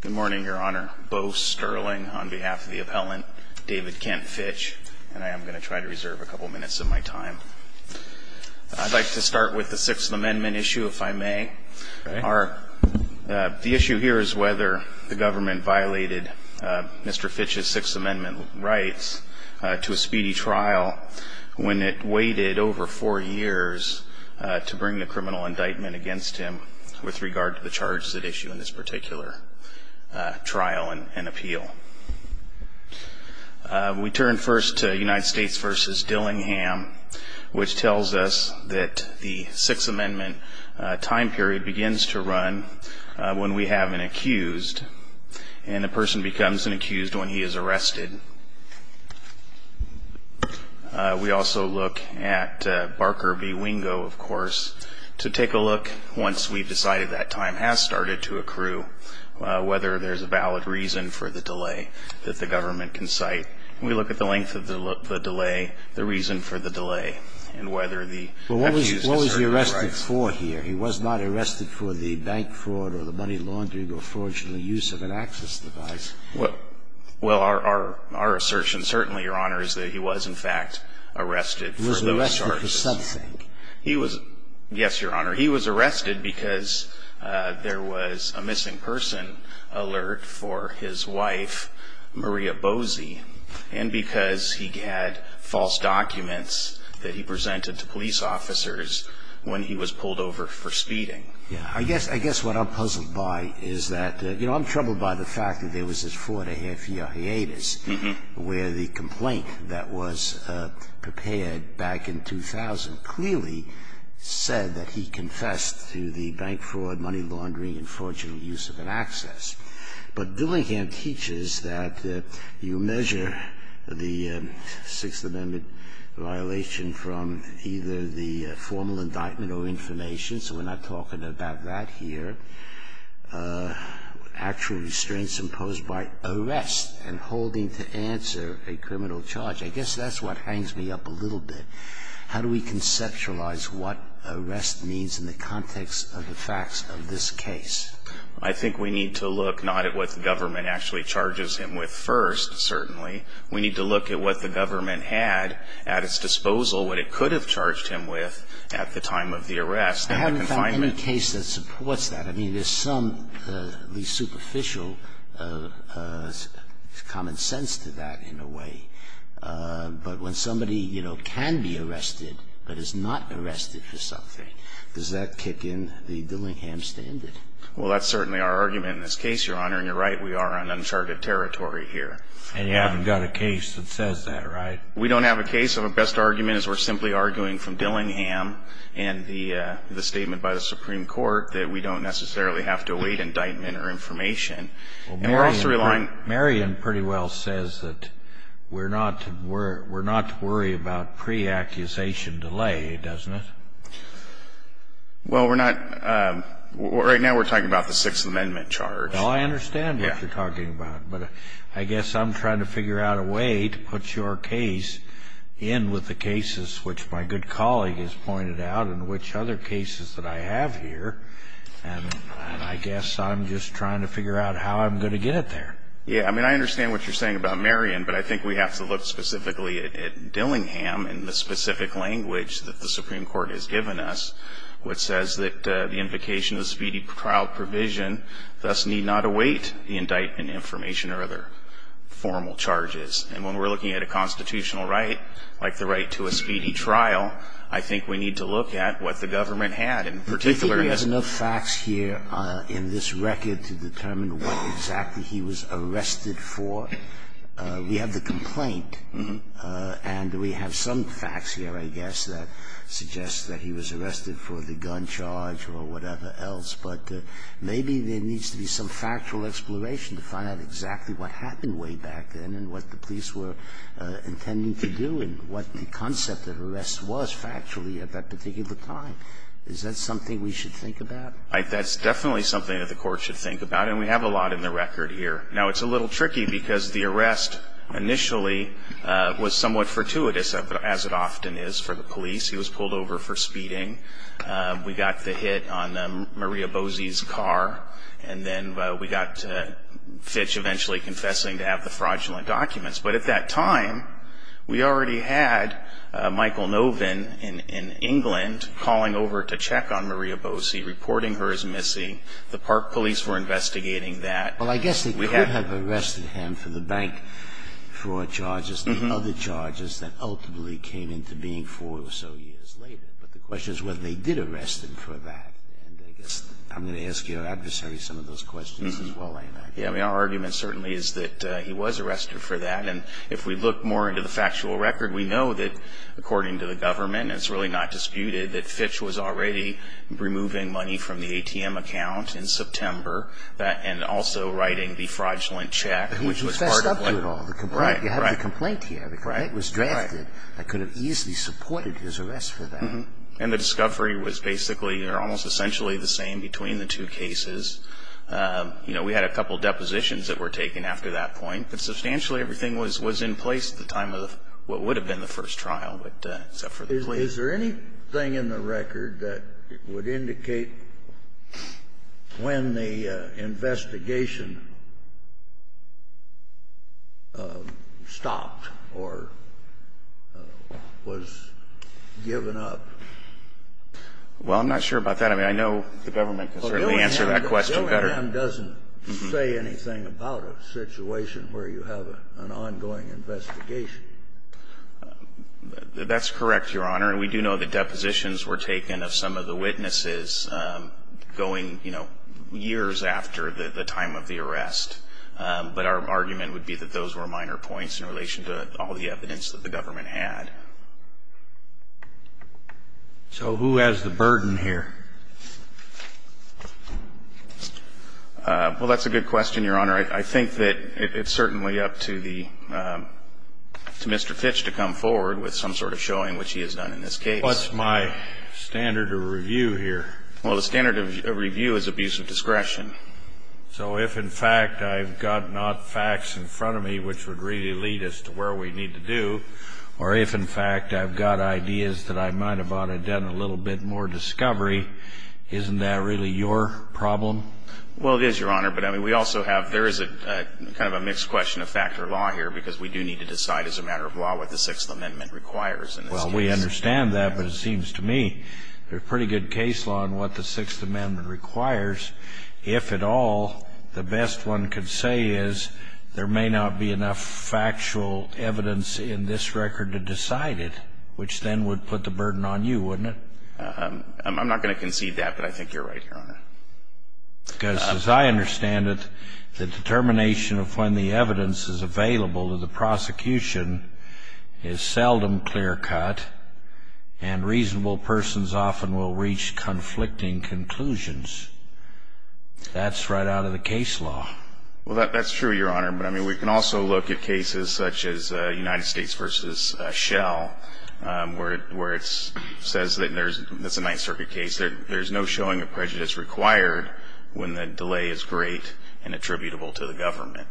Good morning, Your Honor. Beau Sterling on behalf of the appellant, David Kent Fitch. And I am going to try to reserve a couple minutes of my time. I'd like to start with the Sixth Amendment issue, if I may. The issue here is whether the government violated Mr. Fitch's Sixth Amendment rights to a speedy trial when it waited over four years to bring the criminal indictment against him with regard to the charges at issue in this particular trial and appeal. We turn first to United States v. Dillingham, which tells us that the Sixth Amendment time period begins to run when we have an accused, and the person becomes an accused when he is arrested. We also look at Barker v. Wingo, of course, to take a look once we've decided that time has started to accrue, whether there's a valid reason for the delay that the government can cite. We look at the length of the delay, the reason for the delay, and whether the accused has certain rights. But what was he arrested for here? He was not arrested for the bank fraud or the money laundering or fraudulent use of an access device. Well, our assertion, certainly, Your Honor, is that he was, in fact, arrested for those charges. He was arrested for something. Yes, Your Honor. He was arrested because there was a missing person alert for his wife, Maria Boese, and because he had false documents that he presented to police officers when he was pulled over for speeding. Yes. I guess what I'm puzzled by is that, you know, I'm troubled by the fact that there was this four-and-a-half-year hiatus where the complaint that was prepared back in 2000 clearly said that he confessed to the bank fraud, money laundering, and fraudulent use of an access. But Dillingham teaches that you measure the Sixth Amendment violation from either the formal indictment or information, so we're not talking about that here, actual restraints imposed by arrest and holding to answer a criminal charge. I guess that's what hangs me up a little bit. How do we conceptualize what arrest means in the context of the facts of this case? I think we need to look not at what the government actually charges him with first, certainly. We need to look at what the government had at its disposal, what it could have charged him with at the time of the arrest. I haven't found any case that supports that. I mean, there's some at least superficial common sense to that in a way. But when somebody, you know, can be arrested but is not arrested for something, does that kick in the Dillingham standard? Well, that's certainly our argument in this case, Your Honor. And you're right, we are on uncharted territory here. And you haven't got a case that says that, right? We don't have a case. Our best argument is we're simply arguing from Dillingham and the statement by the Supreme Court that we don't necessarily have to await indictment or information. And we're also relying on Marion pretty well says that we're not to worry about pre-accusation delay, doesn't it? Well, we're not. Right now we're talking about the Sixth Amendment charge. Oh, I understand what you're talking about. But I guess I'm trying to figure out a way to put your case in with the cases which my good colleague has pointed out and which other cases that I have here. And I guess I'm just trying to figure out how I'm going to get it there. Yeah, I mean, I understand what you're saying about Marion. But I think we have to look specifically at Dillingham and the specific language that the Supreme Court has given us, which says that the invocation of the speedy trial provision thus need not await the indictment, information, or other formal charges. And when we're looking at a constitutional right, like the right to a speedy trial, I think we need to look at what the government had in particular. Do you think there's enough facts here in this record to determine what exactly he was arrested for? We have the complaint and we have some facts here, I guess, that suggest that he was arrested for the gun charge or whatever else. But maybe there needs to be some factual exploration to find out exactly what happened way back then and what the police were intending to do and what the concept of arrest was factually at that particular time. Is that something we should think about? That's definitely something that the Court should think about. And we have a lot in the record here. Now, it's a little tricky because the arrest initially was somewhat fortuitous, as it often is for the police. He was pulled over for speeding. We got the hit on Maria Bosie's car. And then we got Fitch eventually confessing to have the fraudulent documents. But at that time, we already had Michael Novin in England calling over to check on Maria Bosie, reporting her as missing. The park police were investigating that. Well, I guess they could have arrested him for the bank fraud charges and other charges that ultimately came into being four or so years later. But the question is whether they did arrest him for that. And I guess I'm going to ask your adversary some of those questions as well, I imagine. Yeah. I mean, our argument certainly is that he was arrested for that. And if we look more into the factual record, we know that, according to the government, it's really not disputed that Fitch was already removing money from the ATM account in September and also writing the fraudulent check, which was part of what he did. He fessed up to it all. Right, right. You have the complaint here. The complaint was drafted. Right. That could have easily supported his arrest for that. And the discovery was basically or almost essentially the same between the two cases. You know, we had a couple of depositions that were taken after that point. But substantially everything was in place at the time of what would have been the first trial, except for the plea. Is there anything in the record that would indicate when the investigation stopped or was given up? Well, I'm not sure about that. I mean, I know the government can certainly answer that question better. Billingham doesn't say anything about a situation where you have an ongoing investigation. That's correct, Your Honor. And we do know that depositions were taken of some of the witnesses going, you know, years after the time of the arrest. But our argument would be that those were minor points in relation to all the evidence that the government had. So who has the burden here? Well, that's a good question, Your Honor. I think that it's certainly up to Mr. Fitch to come forward with some sort of showing, which he has done in this case. What's my standard of review here? Well, the standard of review is abuse of discretion. So if, in fact, I've got not facts in front of me which would really lead us to where we need to do, or if, in fact, I've got ideas that I might have ought to have done a little bit more discovery, isn't that really your problem? Well, it is, Your Honor. But, I mean, we also have ñ there is a kind of a mixed question of fact or law here because we do need to decide as a matter of law what the Sixth Amendment requires in this case. Well, we understand that, but it seems to me there's pretty good case law on what the Sixth Amendment requires. If at all, the best one could say is there may not be enough factual evidence in this record to decide it, which then would put the burden on you, wouldn't it? I'm not going to concede that, but I think you're right, Your Honor. Because, as I understand it, the determination of when the evidence is available to the prosecution is seldom clear-cut and reasonable persons often will reach conflicting conclusions. That's right out of the case law. Well, that's true, Your Honor. But, I mean, we can also look at cases such as United States v. Shell, where it says that there's ñ But, I mean, we can also look at cases such as United States v. Shell, where it says that there's a lot of evidence there, when the delay is great and attributable to the government.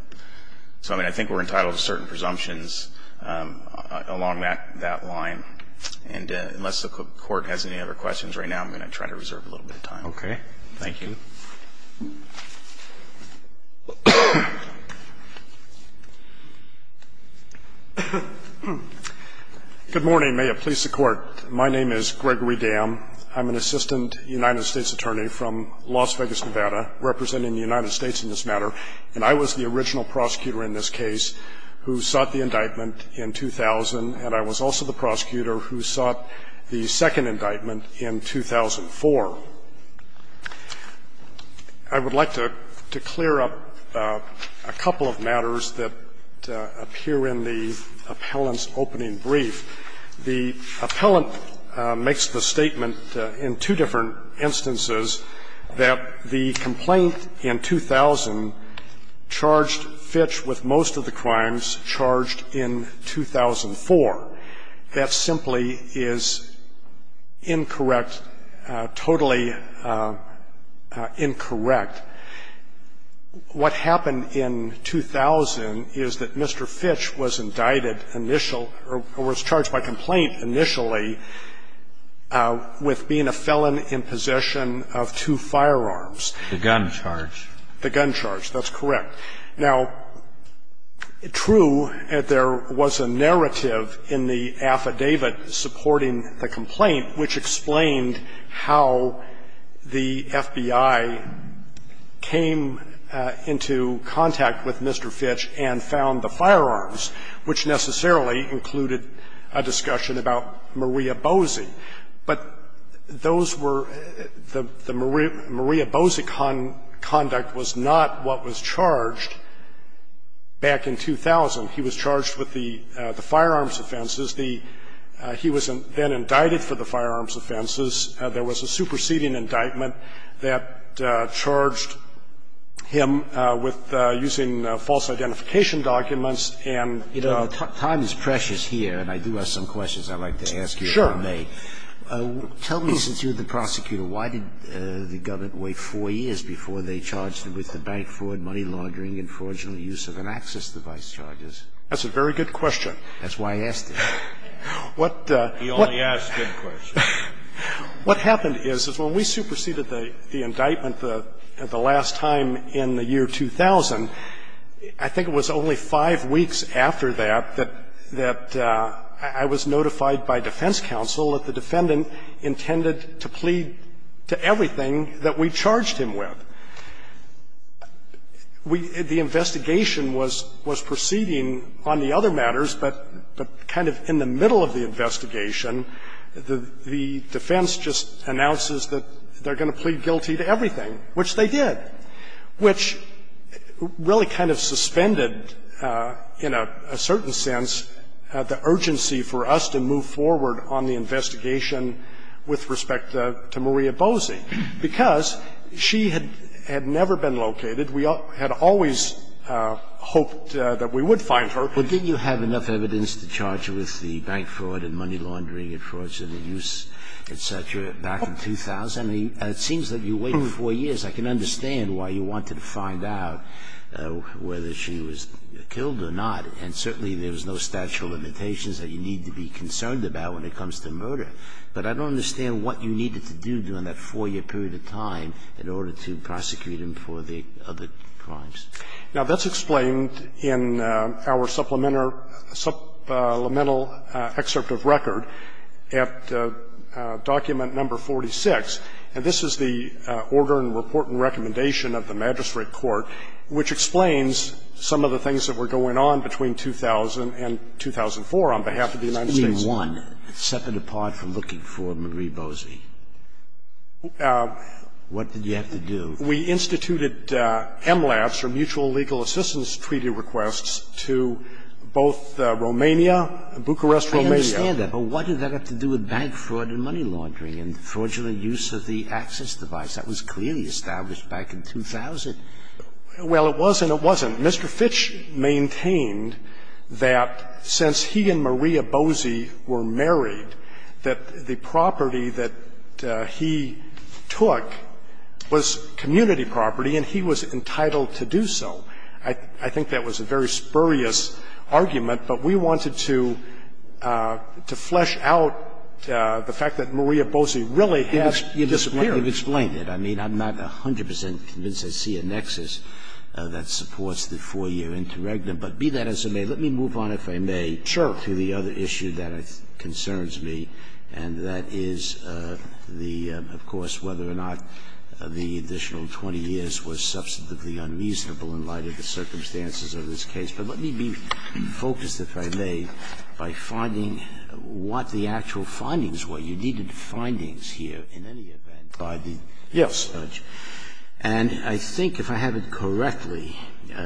So, I mean, I think we're entitled to certain presumptions along that ñ that line. And unless the Court has any other questions right now, I'm going to try to reserve a little bit of time. Okay. Thank you. Good morning. May it please the Court. My name is Gregory Dam. I'm an assistant United States attorney from Las Vegas, Nevada, representing the United States in this matter. And I was the original prosecutor in this case who sought the indictment in 2000, and I was also the prosecutor who sought the second indictment in 2004. I would like to clear up a couple of matters that appear in the appellant's opening brief. The appellant makes the statement in two different instances that the complaint in 2000 charged Fitch with most of the crimes charged in 2004. That simply is incorrect, totally incorrect. What happened in 2000 is that Mr. Fitch was indicted initial ñ or was charged by complaint initially with being a felon in possession of two firearms. The gun charge. The gun charge. That's correct. Now, true, there was a narrative in the affidavit supporting the complaint which explained how the FBI came into contact with Mr. Fitch and found the firearms, which necessarily included a discussion about Maria Boese. But those were ñ the Maria Boese conduct was not what was charged back in 2000. He was charged with the firearms offenses. The ñ he was then indicted for the firearms offenses. There was a superseding indictment that charged him with using false identification documents and ñ You know, time is precious here, and I do have some questions I'd like to ask you Sure. Tell me, since you're the prosecutor, why did the government wait four years before they charged him with the bank fraud, money laundering and fraudulent use of an access device charges? That's a very good question. That's why I asked it. He only asks good questions. What happened is, is when we superseded the indictment the last time in the year 2000, I think it was only five weeks after that, that I was notified by defense counsel that the defendant intended to plead to everything that we charged him with. We ñ the investigation was proceeding on the other matters, but kind of in the middle of the investigation, the defense just announces that they're going to plead guilty to everything, which they did. Which really kind of suspended, in a certain sense, the urgency for us to move forward on the investigation with respect to Maria Boese, because she had never been located. We had always hoped that we would find her. Well, didn't you have enough evidence to charge him with the bank fraud and money laundering and fraudulent use, et cetera, back in 2000? It seems that you waited four years. I can understand why you wanted to find out whether she was killed or not. And certainly there's no statute of limitations that you need to be concerned about when it comes to murder. But I don't understand what you needed to do during that four-year period of time in order to prosecute him for the other crimes. Now, that's explained in our supplemental excerpt of record at document No. 46. And this is the order and report and recommendation of the magistrate court which explains some of the things that were going on between 2000 and 2004 on behalf of the United States. You mean one, separate apart from looking for Maria Boese? What did you have to do? We instituted MLABS, or mutual legal assistance treaty requests, to both Romania, Bucharest, Romania. I understand that. But what did that have to do with bank fraud and money laundering and fraudulent use of the access device? That was clearly established back in 2000. Well, it was and it wasn't. Mr. Fitch maintained that since he and Maria Boese were married, that the property that he took was community property and he was entitled to do so. I think that was a very spurious argument, but we wanted to flesh out the fact that there was no evidence that Maria Boese was involved in any of the fraudulent And that's what you've explained. I mean, I'm not 100 percent convinced I see a nexus that supports the 4-year interregnum. But be that as it may, let me move on, if I may, to the other issue that concerns me, and that is the, of course, whether or not the additional 20 years was substantively unreasonable in light of the circumstances of this case. But let me be focused, if I may, by finding what the actual findings were. You needed findings here in any event by the judge. And I think if I have it correctly,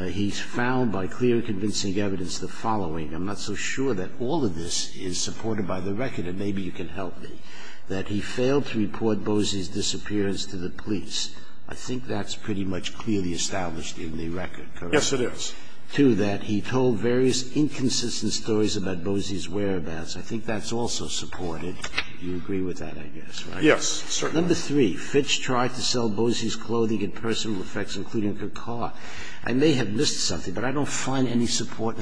he's found by clear and convincing evidence the following. I'm not so sure that all of this is supported by the record, and maybe you can help me, that he failed to report Boese's disappearance to the police. I think that's pretty much clearly established in the record, correct? Yes, it is. Two, that he told various inconsistent stories about Boese's whereabouts. I think that's also supported. You agree with that, I guess, right? Yes, certainly. Number three, Fitch tried to sell Boese's clothing and personal effects, including her car. I may have missed something, but I don't find any support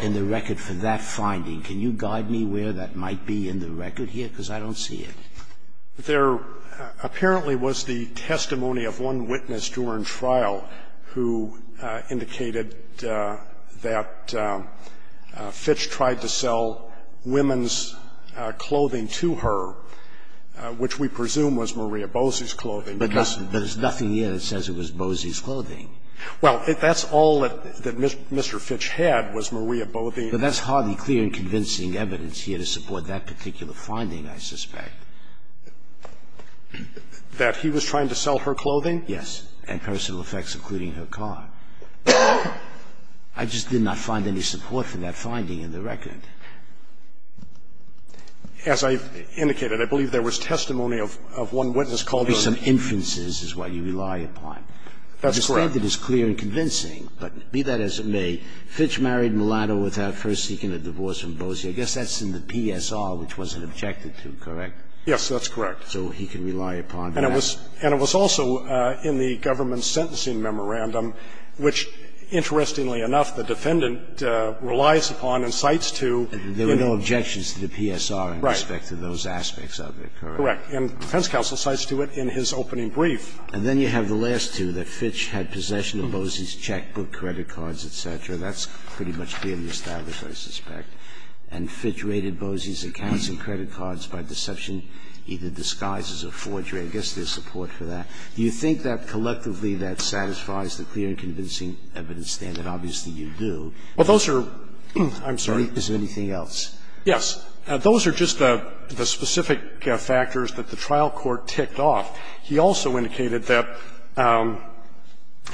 in the record for that finding. Can you guide me where that might be in the record here? Because I don't see it. There apparently was the testimony of one witness during trial who indicated that Fitch tried to sell women's clothing to her, which we presume was Maria Boese's clothing. But there's nothing here that says it was Boese's clothing. Well, that's all that Mr. Fitch had was Maria Boese's. But that's hardly clear and convincing evidence here to support that particular finding, I suspect. That he was trying to sell her clothing? Yes, and personal effects, including her car. I just did not find any support for that finding in the record. As I've indicated, I believe there was testimony of one witness called on her. Maybe some inferences is what you rely upon. That's correct. I think it is clear and convincing, but be that as it may, Fitch married Mulatto without first seeking a divorce from Boese. I guess that's in the PSR, which wasn't objected to, correct? Yes, that's correct. So he can rely upon that. And it was also in the government sentencing memorandum, which, interestingly enough, the defendant relies upon and cites to. There were no objections to the PSR in respect to those aspects of it, correct? Correct. And defense counsel cites to it in his opening brief. And then you have the last two, that Fitch had possession of Boese's checkbook, credit cards, et cetera. That's pretty much clearly established, I suspect. And Fitch raided Boese's accounts and credit cards by deception, either disguises or forgery. I guess there's support for that. Do you think that collectively that satisfies the clear and convincing evidence standard? Obviously, you do. Well, those are – I'm sorry. Is there anything else? Yes. Those are just the specific factors that the trial court ticked off. He also indicated that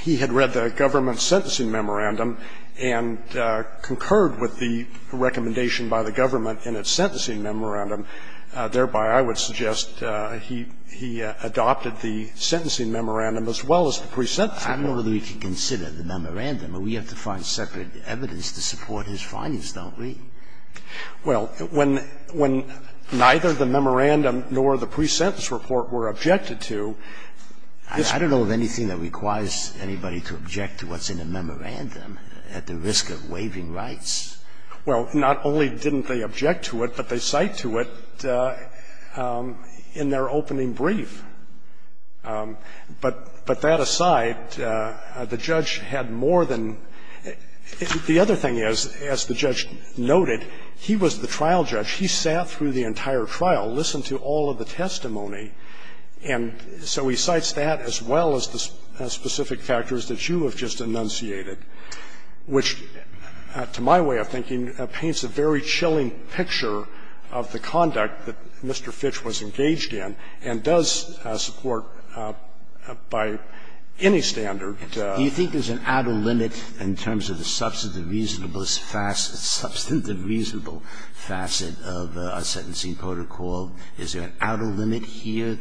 he had read the government sentencing memorandum and concurred with the recommendation by the government in its sentencing memorandum. Thereby, I would suggest he adopted the sentencing memorandum as well as the pre-sentence report. I don't know whether we can consider the memorandum. We have to find separate evidence to support his findings, don't we? Well, when neither the memorandum nor the pre-sentence report were objected to, it's I don't know of anything that requires anybody to object to what's in a memorandum at the risk of waiving rights. Well, not only didn't they object to it, but they cite to it in their opening brief. But that aside, the judge had more than – the other thing is, as the judge noted, he was the trial judge. He sat through the entire trial, listened to all of the testimony. And so he cites that as well as the specific factors that you have just enunciated. Which, to my way of thinking, paints a very chilling picture of the conduct that Mr. Fitch was engaged in and does support by any standard. Do you think there's an outer limit in terms of the substantive reasonableness facet, substantive reasonable facet of a sentencing protocol? Is there an outer limit here?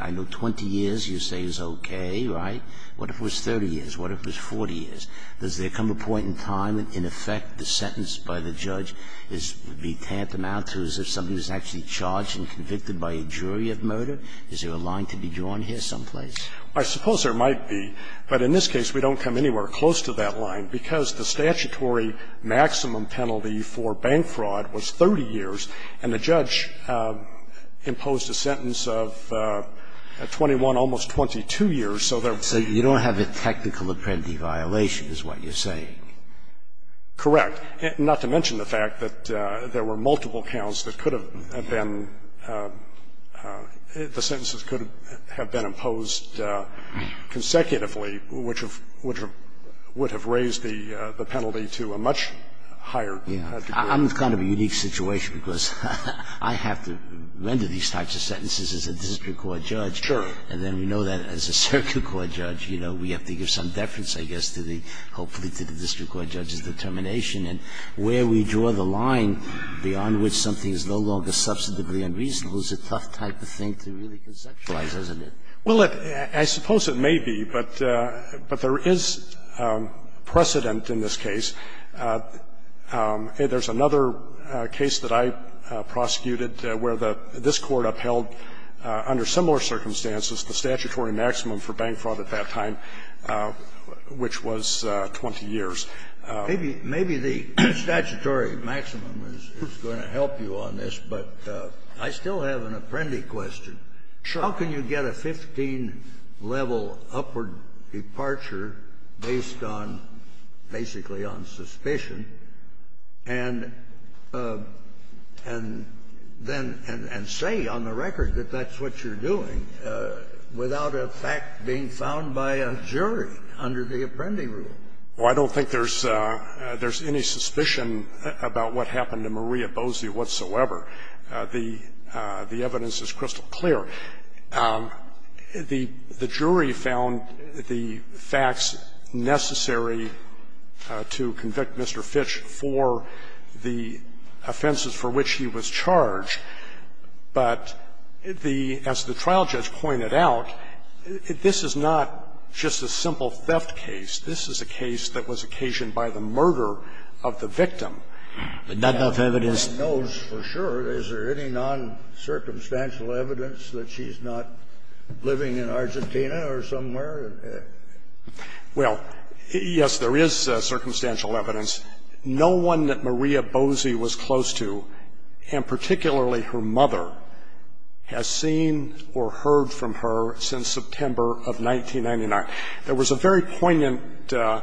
I know 20 years you say is okay, right? What if it was 30 years? What if it was 40 years? Does there come a point in time in effect the sentence by the judge would be tantamount to as if somebody was actually charged and convicted by a jury of murder? Is there a line to be drawn here someplace? I suppose there might be. But in this case, we don't come anywhere close to that line, because the statutory maximum penalty for bank fraud was 30 years, and the judge imposed a sentence of 21, almost 22 years, so there was no limit. And that's what you're saying. That's the violation is what you're saying. Correct. Not to mention the fact that there were multiple counts that could have been the sentences could have been imposed consecutively, which have raised the penalty to a much higher degree. I'm in kind of a unique situation because I have to render these types of sentences as a district court judge. Sure. And then we know that as a circuit court judge, you know, we have to give some deference, I guess, to the – hopefully to the district court judge's determination. And where we draw the line beyond which something is no longer substantively unreasonable is a tough type of thing to really conceptualize, isn't it? Well, I suppose it may be, but there is precedent in this case. There's another case that I prosecuted where the – this Court upheld, under similar circumstances, the statutory maximum for bank fraud at that time, which was 20 years. Maybe the statutory maximum is going to help you on this, but I still have an apprendi question. Sure. How can you get a 15-level upward departure based on – basically on suspicion and then – and say on the record that that's what you're doing without a fact being found by a jury under the apprendi rule? Well, I don't think there's any suspicion about what happened to Maria Bosie whatsoever. The evidence is crystal clear. The jury found the facts necessary to convict Mr. Fitch for the offenses for which he was charged, but the – as the trial judge pointed out, this is not just a simple theft case. This is a case that was occasioned by the murder of the victim. But not enough evidence. The jury knows for sure. Is there any noncircumstantial evidence that she's not living in Argentina or somewhere? Well, yes, there is circumstantial evidence. No one that Maria Bosie was close to, and particularly her mother, has seen or heard from her since September of 1999. There was a very poignant – Well,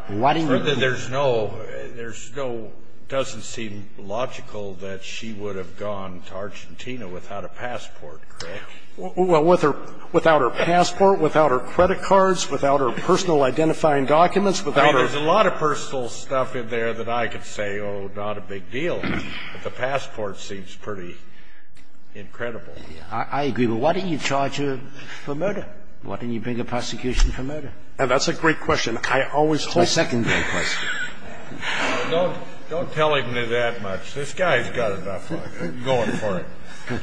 there's no – there's no – doesn't seem logical that she would have gone to Argentina without a passport. Well, with her – without her passport, without her credit cards, without her personal identifying documents, without her – I mean, there's a lot of personal stuff in there that I could say, oh, not a big deal. But the passport seems pretty incredible. I agree. But why didn't you charge her for murder? Why didn't you bring a prosecution for murder? That's a great question. I always hope – It's my second great question. Don't tell him that much. This guy's got enough going for him.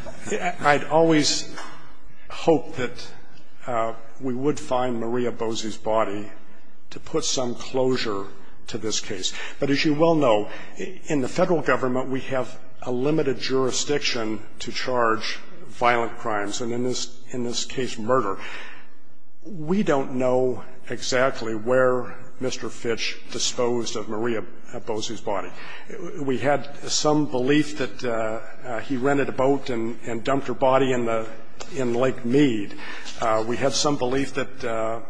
I'd always hope that we would find Maria Bosie's body to put some closure to this case. But as you well know, in the Federal Government, we have a limited jurisdiction to charge violent crimes, and in this case, murder. We don't know exactly where Mr. Fitch disposed of Maria Bosie's body. We had some belief that he rented a boat and dumped her body in the – in Lake Mead. We had some belief that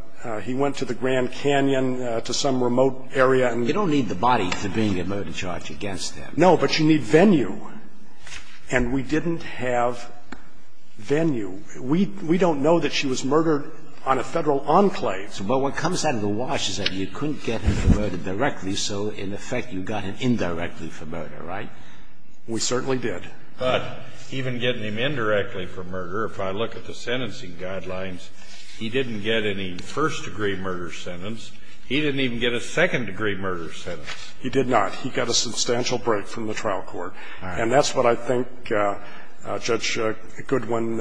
he went to the Grand Canyon to some remote area and – You don't need the body for being a murder charge against them. No, but you need venue. And we didn't have venue. We don't know that she was murdered on a Federal enclave. But what comes out of the wash is that you couldn't get him for murder directly, so in effect you got him indirectly for murder, right? We certainly did. But even getting him indirectly for murder, if I look at the sentencing guidelines, he didn't get any first-degree murder sentence. He didn't even get a second-degree murder sentence. He did not. He got a substantial break from the trial court. All right. And that's what I think Judge Goodwin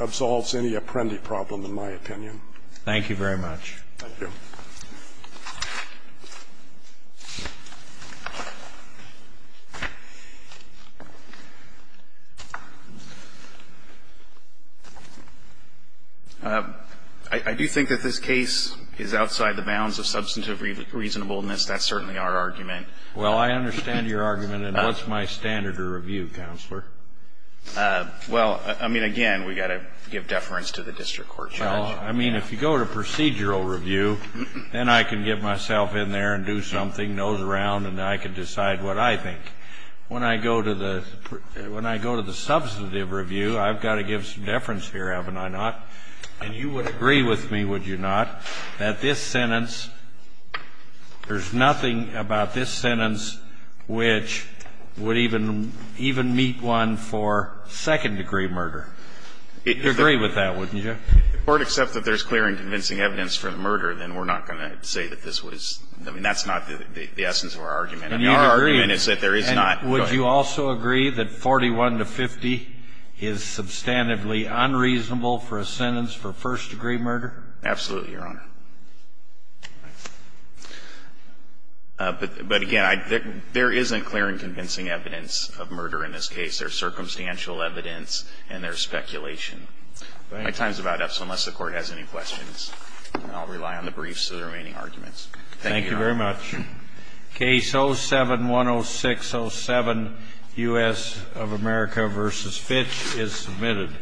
absolves any apprendi problem, in my opinion. Thank you very much. Thank you. I do think that this case is outside the bounds of substantive reasonableness. That's certainly our argument. Well, I understand your argument. And what's my standard of review, Counselor? Well, I mean, again, we've got to give deference to the district court, Judge. Well, I mean, if you go to procedural review, then I can get myself in there and do something, nose around, and I can decide what I think. When I go to the substantive review, I've got to give some deference here, haven't I not? And you would agree with me, would you not, that this sentence, there's nothing about this sentence which would even meet one for second-degree murder. You'd agree with that, wouldn't you? If the Court accepts that there's clear and convincing evidence for the murder, then we're not going to say that this was – I mean, that's not the essence of our argument. I mean, our argument is that there is not. Would you also agree that 41 to 50 is substantively unreasonable for a sentence for first-degree murder? Absolutely, Your Honor. But again, there isn't clear and convincing evidence of murder in this case. There's circumstantial evidence and there's speculation. My time is about up, so unless the Court has any questions, I'll rely on the briefs of the remaining arguments. Thank you, Your Honor. Thank you very much. Case 07-10607, U.S. of America v. Fitch, is submitted.